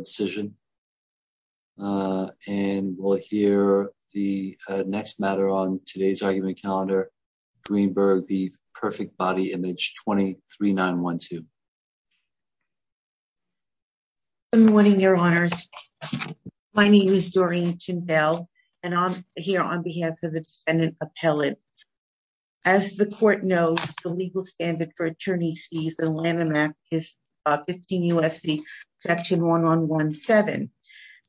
Decision. And we'll hear the next matter on today's argument calendar, Greenberg v. Perfect Body Image 23912. Good morning, Your Honors. My name is Doreen Tyndell, and I'm here on behalf of the defendant appellant. As the court knows, the legal standard for attorney sees the Lanham Act is 15 U.S.C. Section 1117.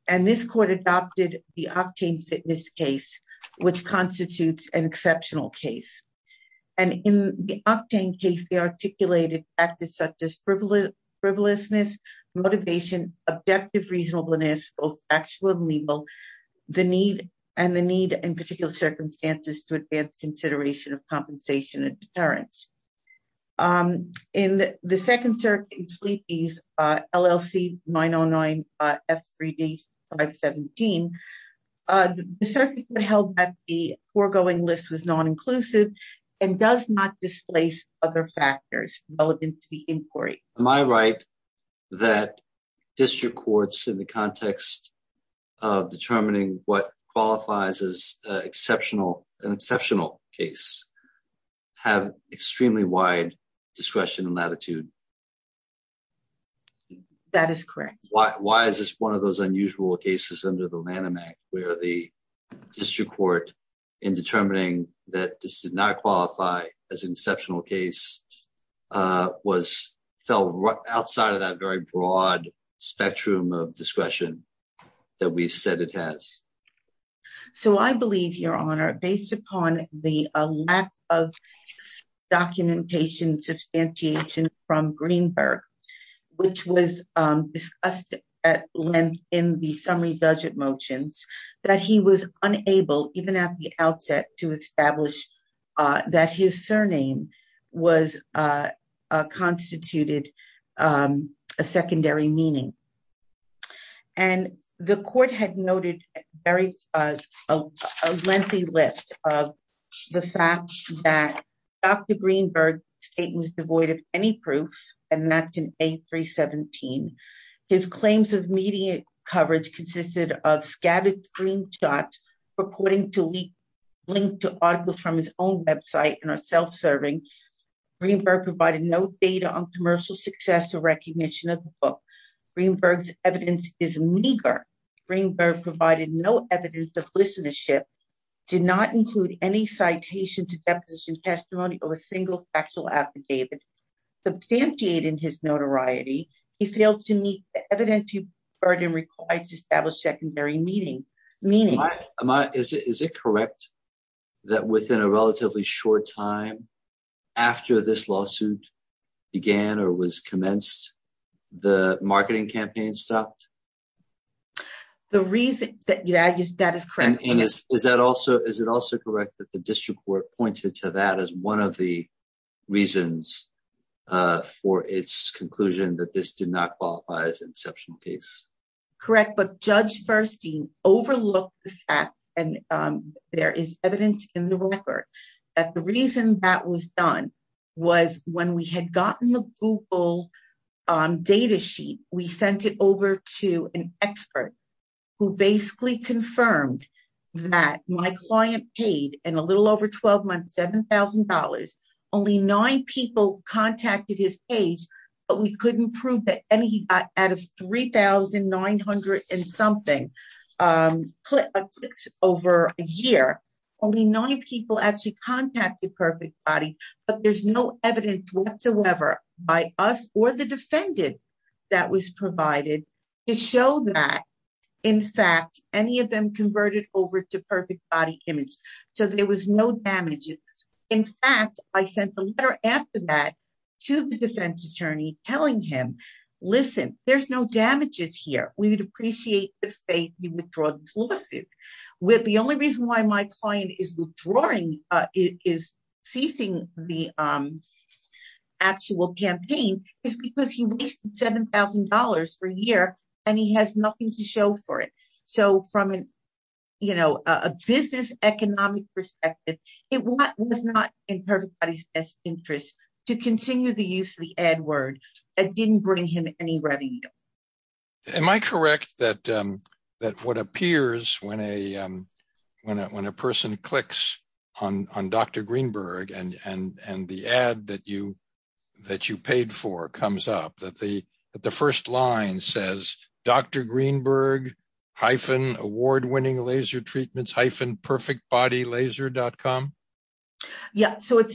And this court adopted the Octane Fitness case, which constitutes an exceptional case. And in the Octane case, they articulated practice such as frivolousness, motivation, objective reasonableness, both factual and legal, the need and the need in particular circumstances to advance consideration of compensation and deterrence. In the second sleepies, LLC 909 F3D 517, the circuit held that the foregoing list was non-inclusive, and does not displace other factors relevant to the inquiry. Am I right that district courts in the context of determining what qualifies as exceptional, an exceptional case, have extremely wide discretion and latitude? That is correct. Why? Why is this one of those unusual cases under the Lanham Act, where the district court in determining that this did not qualify as an exceptional case, was fell right outside of that very broad spectrum of discretion that we've said it has? So I believe, Your Honor, based upon the lack of documentation substantiation from Greenberg, which was discussed at length in the summary budget motions, that he was unable even at the outset to establish that his surname was constituted a secondary meaning. And the court had noted very lengthy list of the fact that Dr. Greenberg's statement was devoid of any proof, and that's in A317. His claims of media coverage consisted of scattered screenshots, purporting to be linked to articles from his own website and are self serving. Greenberg provided no data on commercial success or Greenberg's evidence is meager. Greenberg provided no evidence of listenership, did not include any citation to deposition testimony or a single factual affidavit. Substantiating his notoriety, he failed to meet the evidentiary burden required to establish secondary meaning. Am I, is it correct that within a relatively short time after this lawsuit began or was commenced, the marketing campaign stopped? The reason that yeah, that is correct. Is that also is it also correct that the district court pointed to that as one of the reasons for its conclusion that this did not qualify as an exceptional case? Correct. But Judge Verstein overlooked the fact and there is evidence in the record that the reason that was done was when we had gotten the Google data sheet, we sent it over to an expert who basically confirmed that my client paid in a little over 12 months $7,000. Only nine people contacted his page, but we couldn't prove that any out of 3,900 and something clicks over a year. Only nine people actually contacted Perfect Body, but there's no evidence whatsoever by us or the defendant that was provided to show that, in fact, any of them converted over to Perfect Body image. So there was no damages. In fact, I sent a letter after that to the defense attorney telling him, listen, there's no damages here. We would appreciate the faith you withdraw this lawsuit. With the only reason why my client is withdrawing, is ceasing the actual campaign is because he wasted $7,000 for a year and he has nothing to show for it. So from an, you know, a business economic perspective, it was not in Perfect Body's best interest to continue the use of the ad word. It didn't bring him any revenue. Am I correct that what appears when a person clicks on Dr. Greenberg and the ad that you paid for comes up that the first line says, Dr. Greenberg hyphen award winning laser treatments hyphen PerfectBodyLaser.com? Yeah, so it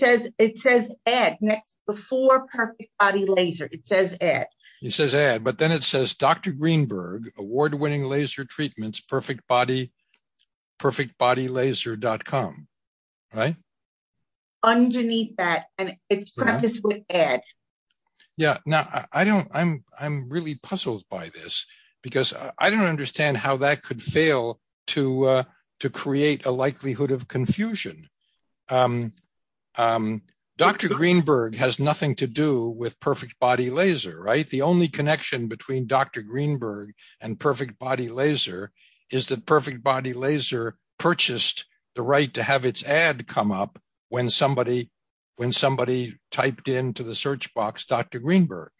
says ad next before Perfect Body Laser. It says ad. It says ad but then it says Dr. Greenberg award winning laser treatments Perfect Body. PerfectBodyLaser.com. Right? Underneath that, and it's Yeah, now I don't I'm I'm really puzzled by this. Because I don't understand how that could fail to to create a likelihood of confusion. Dr. Greenberg has nothing to do with Perfect Body Laser, right? The only connection between Dr. Greenberg and Perfect Body Laser is that Perfect Body Laser purchased the right to have its ad come up when somebody when somebody typed into the search box, Dr. Greenberg.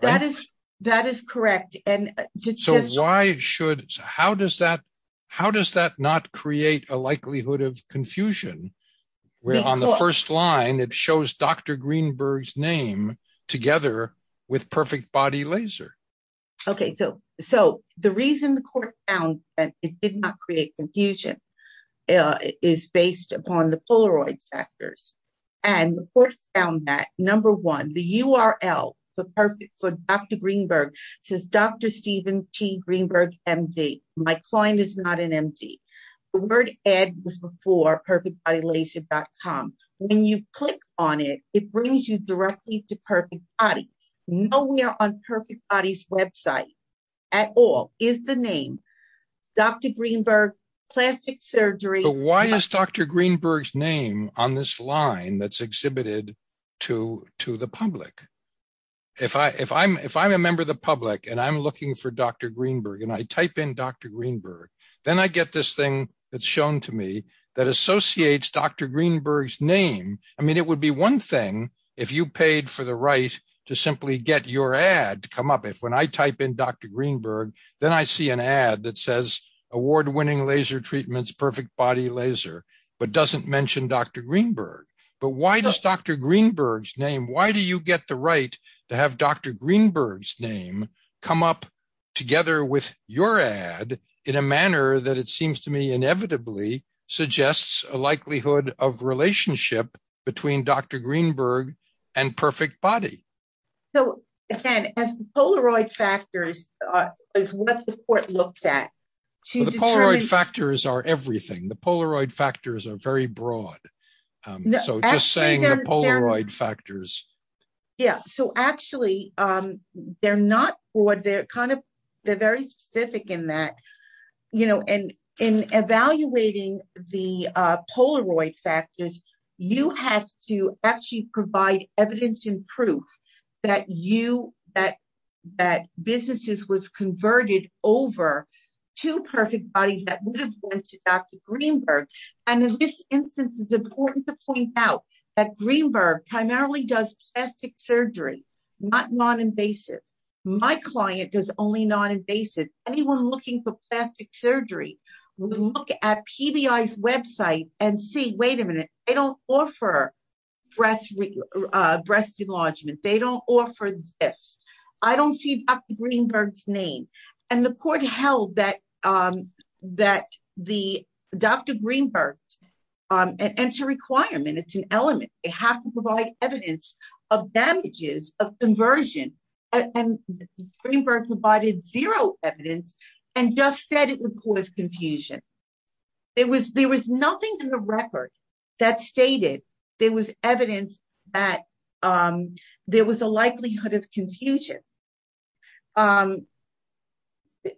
That is, that is correct. And just why should how does that? How does that not create a likelihood of confusion? Where on the first line, it shows Dr. Greenberg's name together with Perfect Body Laser. Okay, so so the reason the court found that it did not create confusion is based upon the Polaroid factors. And the court found that number one, the URL for perfect for Dr. Greenberg says Dr. Steven T. Greenberg, MD, my client is not an MD. The word ad was before PerfectBodyLaser.com. When you click on it, it brings you directly to Perfect Body. Nowhere on Perfect Body's website at all is the name Dr. Greenberg plastic surgery. Why is Dr. Greenberg's name on this line that's exhibited to to the public? If I if I'm if I'm a member of the public, and I'm looking for Dr. Greenberg, and I type in Dr. Greenberg, then I get this thing that's shown to me that associates Dr. Greenberg's name. I mean, it would be one thing if you paid for the right to simply get your ad to come up if when I type in Dr. Greenberg, then I see an ad that says award winning laser treatments Perfect Body Laser, but doesn't mention Dr. Greenberg. But why does Dr. Greenberg's name? Why do you get the right to have Dr. Greenberg's name come up together with your ad in a manner that it seems to me inevitably suggests a likelihood of relationship between Dr. Greenberg and Perfect Body? So, again, as the Polaroid factors is what the court looks at, to the Polaroid factors are everything the Polaroid factors are very broad. So just saying the Polaroid factors. Yeah, so actually, they're not what they're kind of, they're very specific in that, you know, and in evaluating the Polaroid factors, you have to actually provide evidence and proof that you that that businesses was converted over to Perfect Body that went to Dr. Greenberg. And in this instance, it's important to point out that Greenberg primarily does plastic surgery, not non-invasive. My client does only non-invasive. Anyone looking for plastic surgery, look at PBI's website and see wait a minute, they don't offer breast, breast enlargement, they don't offer this. I don't see Dr. Greenberg's name. And the court held that, that the Dr. Greenberg, and enter requirement, it's an element, they have to provide evidence of damages of conversion. And Greenberg provided zero evidence, and just said it would cause confusion. It was there was nothing in the record that stated there was evidence that there was a likelihood of confusion.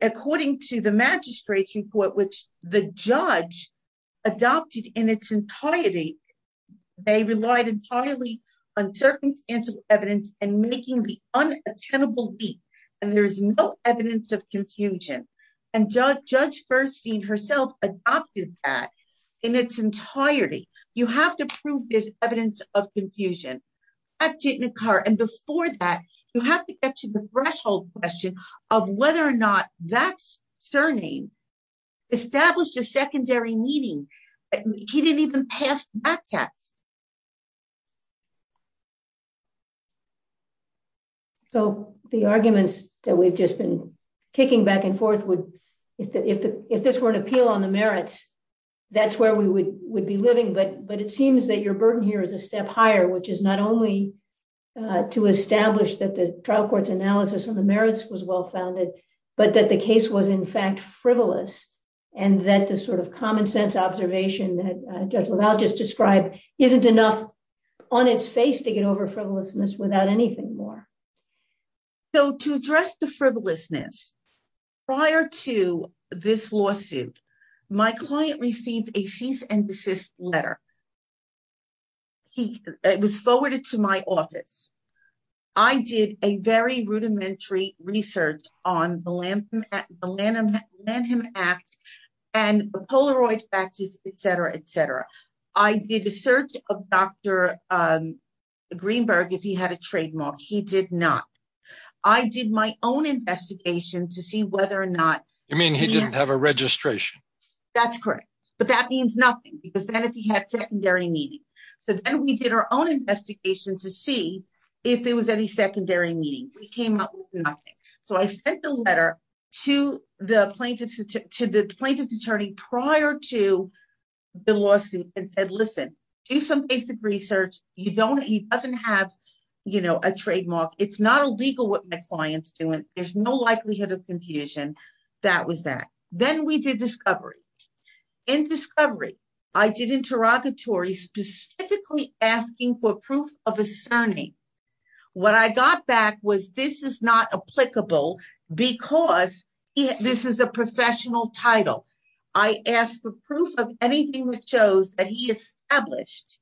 According to the magistrate's report, which the judge adopted in its entirety, they relied entirely on circumstantial evidence and making the unattainable beat. And there's no evidence of confusion. And judge, Judge Bernstein herself adopted that in its entirety, you have to prove this evidence of confusion at Jitnikar. And before that, you have to get to the threshold question of whether or not that surname established a secondary meeting. He didn't even pass that test. So the arguments that we've just been kicking back and forth would, if this were an appeal on the merits, that's where we would would be living. But but it seems that your burden here is a step higher, which is not only to establish that the trial court's analysis on the merits was well founded, but that the evidence was frivolous. And that the sort of common sense observation that Judge LaValle just described, isn't enough on its face to get over frivolousness without anything more. So to address the frivolousness, prior to this lawsuit, my client received a cease and desist letter. It was forwarded to my and Polaroid faxes, etc, etc. I did a search of Dr. Greenberg, if he had a trademark, he did not. I did my own investigation to see whether or not you mean he didn't have a registration. That's correct. But that means nothing, because then if he had secondary meeting, so then we did our own investigation to see if there was any secondary meeting, we came up with to the plaintiff's attorney prior to the lawsuit and said, listen, do some basic research. You don't he doesn't have, you know, a trademark. It's not illegal what my client's doing. There's no likelihood of confusion. That was that. Then we did discovery. In discovery, I did interrogatory specifically asking for proof of asserting. What I got back was this is not title. I asked for proof of anything which shows that he established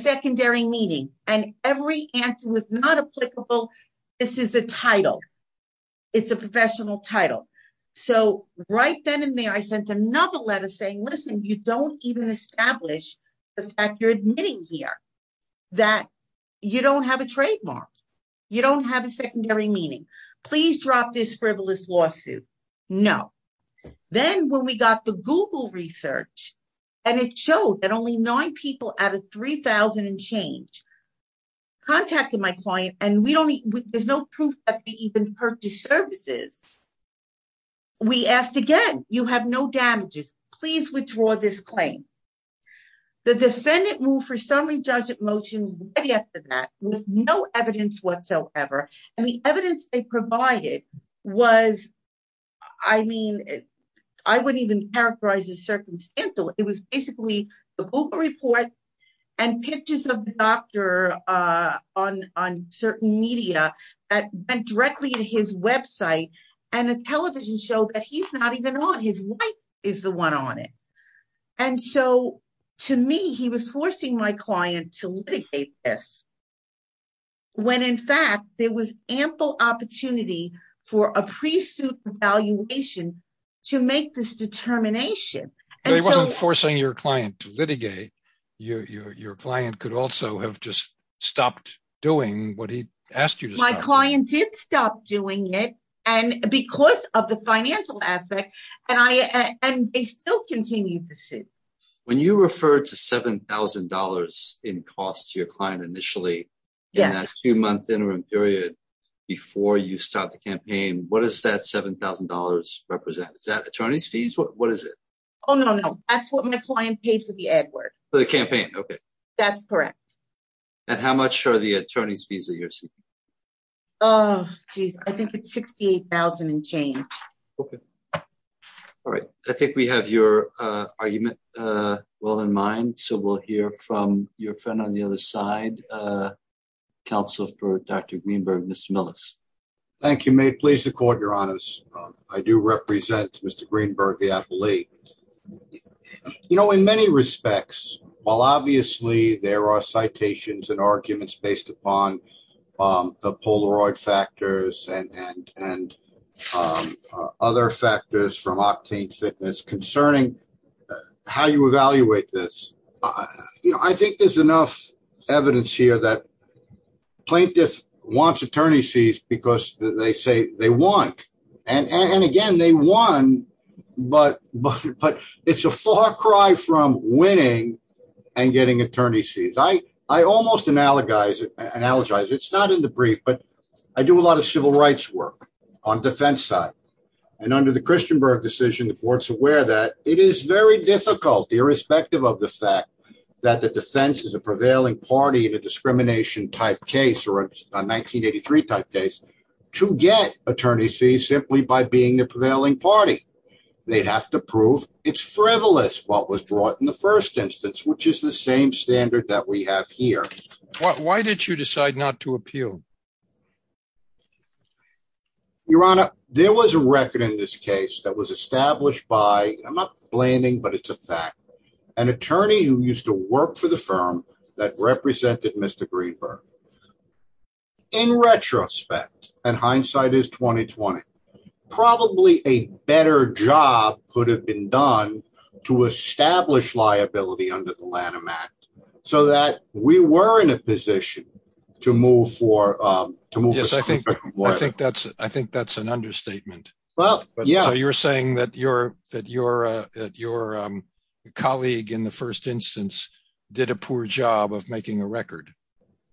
secondary meaning and every answer was not applicable. This is a title. It's a professional title. So right then and there, I sent another letter saying, listen, you don't even establish the fact you're admitting here that you don't have a trademark. You don't have a secondary meaning. Please drop this frivolous lawsuit. No. Then when we got the Google research, and it showed that only nine people out of 3000 and change contacted my client and we don't need there's no proof that they even purchased services. We asked again, you have no damages, please withdraw this claim. The defendant moved for summary judge at motion after that with no evidence whatsoever. And the evidence they provided was, I mean, I wouldn't even characterize as circumstantial. It was basically the Google report, and pictures of doctor on on certain media that went directly to his website, and a television show that he's not even on his wife is the one on it. And so, to me, he was forcing my client to litigate this. When in fact, there was ample opportunity for a pre suit evaluation to make this determination. They weren't forcing your client to litigate your your client could also have just stopped doing what he asked you to my client did stop doing it. And because of the financial aspect, and I and they still continue to sit. When you refer to $7,000 in cost to your client initially, yes, two month interim period. Before you start the campaign, what is that $7,000 represent? Is that attorneys fees? What is it? Oh, no, no, that's what my client paid for the ad work for the campaign. Okay, that's correct. And how much are the attorney's fees that you're seeing? Oh, geez, I think it's 68,000 and change. Okay. All right. I think we have your argument. Well in mind, so we'll hear from your friend on the other side. Council for Dr. Greenberg, Mr. Millis. Thank you may please the court your honors. I do represent Mr. Greenberg, the athlete. You know, in many respects, while obviously there are citations and arguments based upon the other factors from octane fitness concerning how you evaluate this. You know, I think there's enough evidence here that plaintiff wants attorney's fees because they say they want and and again, they won. But but it's a far cry from winning and getting attorney's fees. I I almost analogize it analogize it's not in the brief, but I do a lot of civil rights work on the defense side. And under the Christian Berg decision, the court's aware that it is very difficult irrespective of the fact that the defense is a prevailing party in a discrimination type case or a 1983 type case to get attorney's fees simply by being the prevailing party. They'd have to prove it's frivolous what was brought in the first instance, which is the same standard that we have here. Why did you decide not to appeal? Your honor, there was a record in this case that was established by I'm not blaming, but it's a fact, an attorney who used to work for the firm that represented Mr. Greenberg. In retrospect, and hindsight is 2020, probably a better job could have been done to establish liability under the Lanham Act, so that we were in a position to move forward with Yes, I think I think that's I think that's an understatement. Well, yeah, you're saying that you're that you're that your colleague in the first instance, did a poor job of making a record.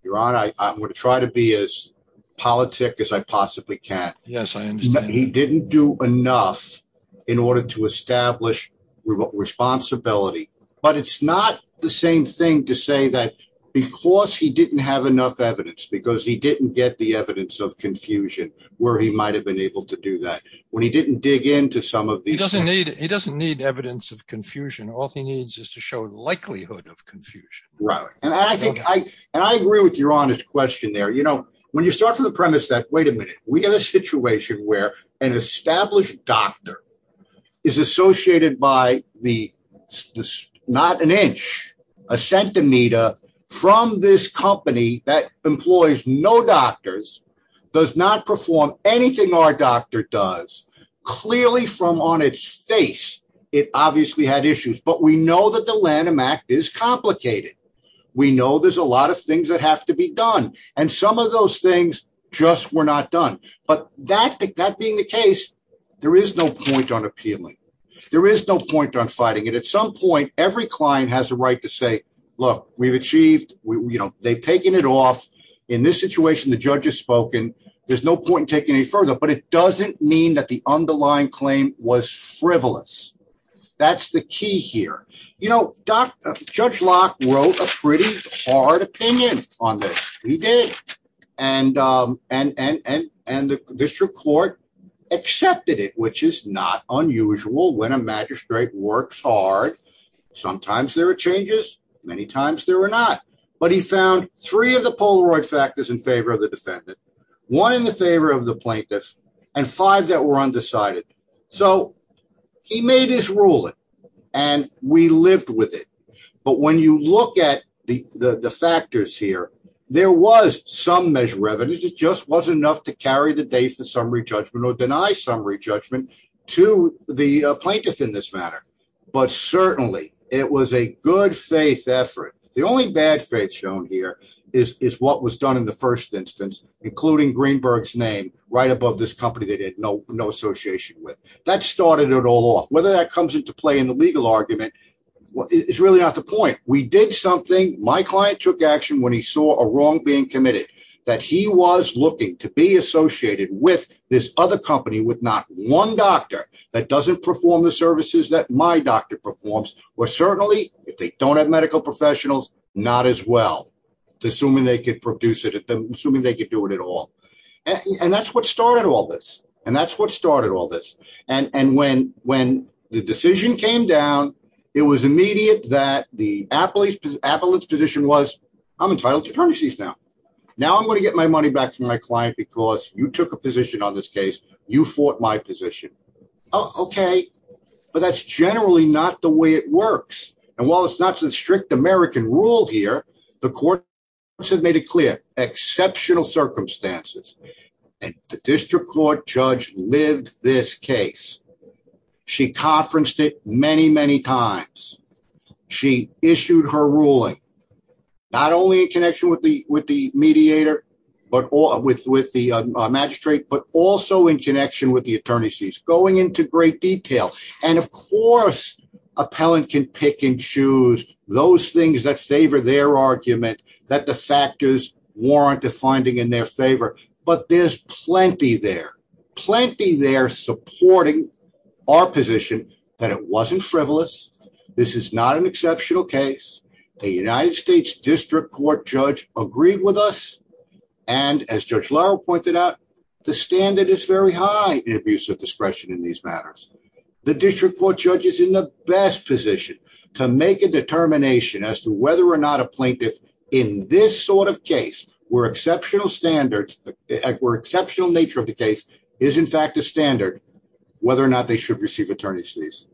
Your honor, I would try to be as politic as I possibly can. Yes, I understand. He didn't do enough in order to establish responsibility. But it's not the same thing to say that, because he didn't have enough evidence, because he didn't get the evidence of confusion, where he might have been able to do that. When he didn't dig into some of these doesn't need it doesn't need evidence of confusion, all he needs is to show likelihood of confusion. Right. And I think I, and I agree with your honest question there, you know, when you start from the premise that wait a minute, we have a situation where an established doctor is associated by the not an inch, a centimeter from this company that employs no doctors, does not perform anything our doctor does, clearly from on its face, it obviously had issues, but we know that the Lanham Act is complicated. We know there's a lot of things that have to be done. And some of those things just were not done. But that that being the case, there is no point on appealing. There is no point on fighting it at some point, every client has a right to say, look, we've achieved, you know, they've taken it off. In this situation, the judge has spoken, there's no point in taking any further, but it doesn't mean that the underlying claim was frivolous. That's the key here. You know, Dr. Judge Locke wrote a pretty hard opinion on this. He did. And, and, and, and, and the district court accepted it, which is not unusual when a magistrate works hard. Sometimes there are changes. Many times there were not, but he found three of the Polaroid factors in favor of the defendant, one in the favor of the plaintiff, and five that were undecided. So he made his ruling, and we lived with it. But when you look at the factors here, there was some measure of evidence, it just wasn't enough to carry the date of summary judgment or deny summary judgment to the plaintiff in this matter. But certainly, it was a good faith effort. The only bad faith shown here is, is what was done in the first instance, including Greenberg's name, right above this company that had no, no association with. That started it all off. Whether that comes into play in the legal argument, well, it's really not the point. We did something, my client took action when he saw a wrong being committed, that he was looking to be associated with this other company with not one doctor that doesn't perform the services that my doctor performs, or certainly, if they don't have medical professionals, not as well, assuming they could produce it, assuming they could do it at all. And that's what started all this. And that's what started all this. And when the decision came down, it was immediate that the appellate's position was, I'm entitled to premises now. Now I'm going to get my money back from my client because you took a position on this case, you fought my And while it's not a strict American rule here, the court has made it clear exceptional circumstances. And the district court judge lived this case. She conferenced it many, many times. She issued her ruling, not only in connection with the with the mediator, but all with with the magistrate, but also in connection with the attorney sees going into great detail. And of course, appellant can pick and choose those things that favor their argument that the factors warrant a finding in their favor. But there's plenty there, plenty there supporting our position that it wasn't frivolous. This is not an exceptional case. The United States District Court judge agreed with us. And as Judge Lara pointed out, the standard is very high in abuse of discretion in these matters. The district court judge is in the best position to make a determination as to whether or not a plaintiff in this sort of case, where exceptional standards were exceptional nature of the case is in fact a standard, whether or not they should receive attorney's these.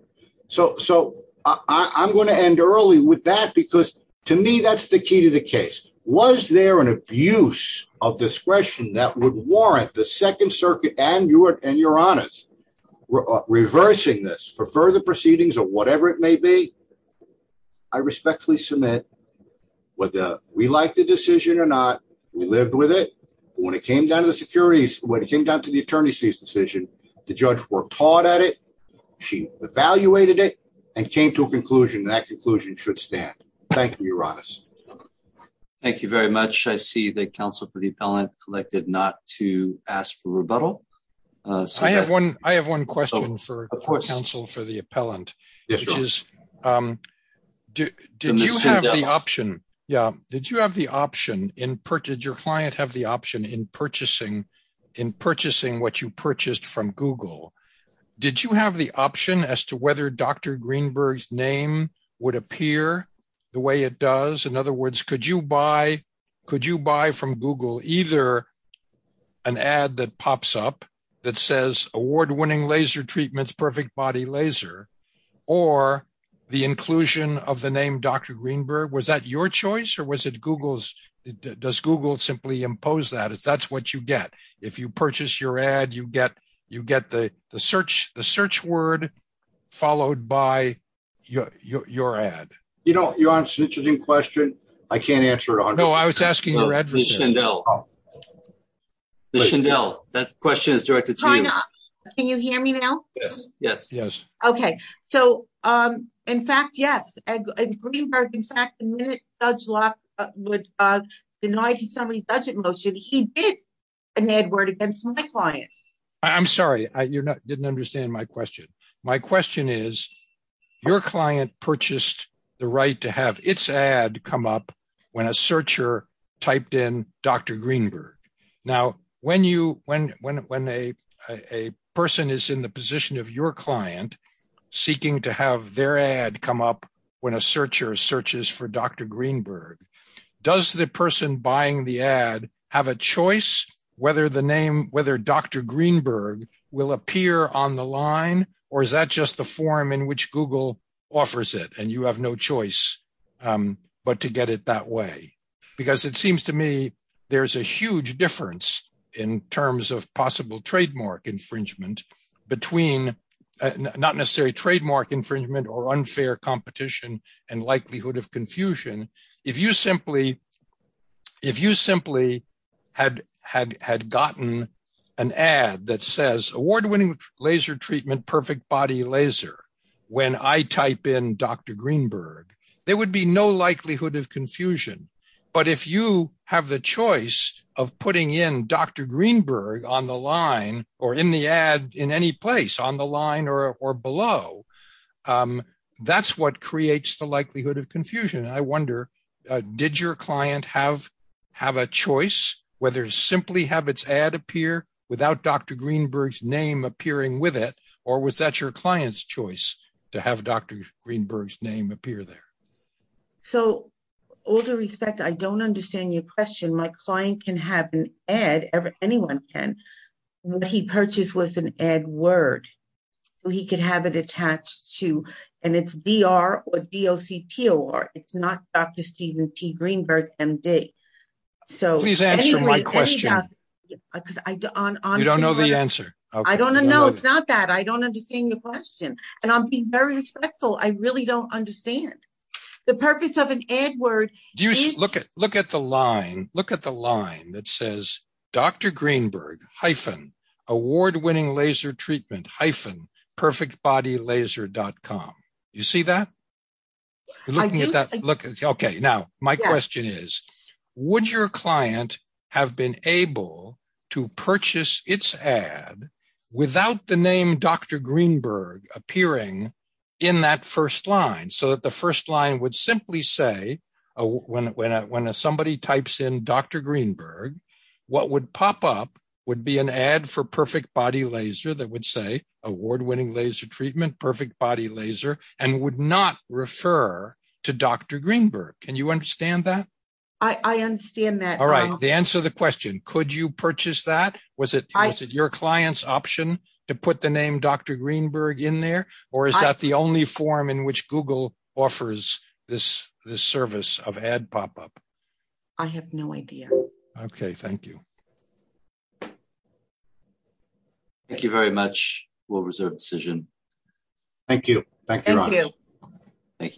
So so I'm going to end early with that, because to me, that's the key to the case. Was there an abuse of discretion that would warrant the Second for further proceedings or whatever it may be. I respectfully submit, whether we like the decision or not, we lived with it. When it came down to the securities when it came down to the attorney sees decision, the judge were taught at it. She evaluated it and came to a conclusion that conclusion should stand. Thank you, Ronis. Thank you very much. I see the Council for the appellant collected not to ask for rebuttal. I have one I have one question for the Council for the appellant, which is do you have the option? Yeah. Did you have the option in purchase your client have the option in purchasing in purchasing what you purchased from Google? Did you have the option as to whether Dr. Greenberg name would appear the way it does? In other words, could you buy? Could you buy the ad that pops up that says award winning laser treatments, perfect body laser, or the inclusion of the name Dr. Greenberg? Was that your choice? Or was it Google's? Does Google simply impose that it's that's what you get. If you purchase your ad, you get you get the search the search word, followed by your your ad, you know, your answer to the question. I can't answer it. Oh, no, I was asking your address now. The Chanel that question is directed to you. Can you hear me now? Yes, yes. Yes. Okay. So, um, in fact, yes. In fact, Judge Locke would deny to somebody budget motion he did an ad word against my client. I'm sorry, I didn't understand my question. My question is, your client purchased the right to have its ad come up when a searcher typed in Dr. Greenberg. Now, when you when when a person is in the position of your client, seeking to have their ad come up, when a searcher searches for Dr. Greenberg, does the person buying the ad have a choice, whether the name whether Dr. Greenberg will appear on the line? Or is that just the form in which Google offers it and you have no choice, but to get it that way? Because it seems to me, there's a huge difference in terms of possible trademark infringement, between not necessary trademark infringement or unfair competition and likelihood of confusion. If you simply if you simply had had had gotten an ad that says award winning laser treatment, perfect body laser, when I type in Dr. Greenberg, there would be no likelihood of confusion. But if you have the choice of putting in Dr. Greenberg on the line, or in the ad in any place on the line or below. That's what creates the likelihood of confusion. I wonder, did your client have have a choice whether simply have its ad appear without Dr. Greenberg name appearing with it? Or was that your client's choice to have Dr. Greenberg's name appear there? So, all due respect, I don't understand your question. My client can have an ad ever anyone can when he purchased was an ad word. He could have it attached to and it's VR or DLC to or it's not Dr. Steven T. Greenberg MD. So please answer my question. I don't know the answer. I don't know. No, it's not that I don't understand the question. And I'm being very respectful. I really don't understand. The purpose of an ad word. Do you look at look at the line, look at the line that says, Dr. Greenberg hyphen award winning laser treatment hyphen perfect body laser.com. You see that? Looking at that look, okay. Now, my question is, would your client have been able to purchase its ad without the name Dr. Greenberg appearing in that first line so that the first line would simply say, when when when somebody types in Dr. Greenberg, what would pop up would be an ad for perfect body laser that would say award winning laser treatment perfect body laser and would not refer to Dr. Greenberg. Can you understand that? I understand that. All right, the answer the question, could you purchase that? Was it I said your client's option to put the name Dr. Greenberg in there? Or is that the only form in which Google offers this service of ad pop up? I have no idea. Okay, thank you. Thank you very much. We'll reserve decision. Thank you. Thank you. Thank you.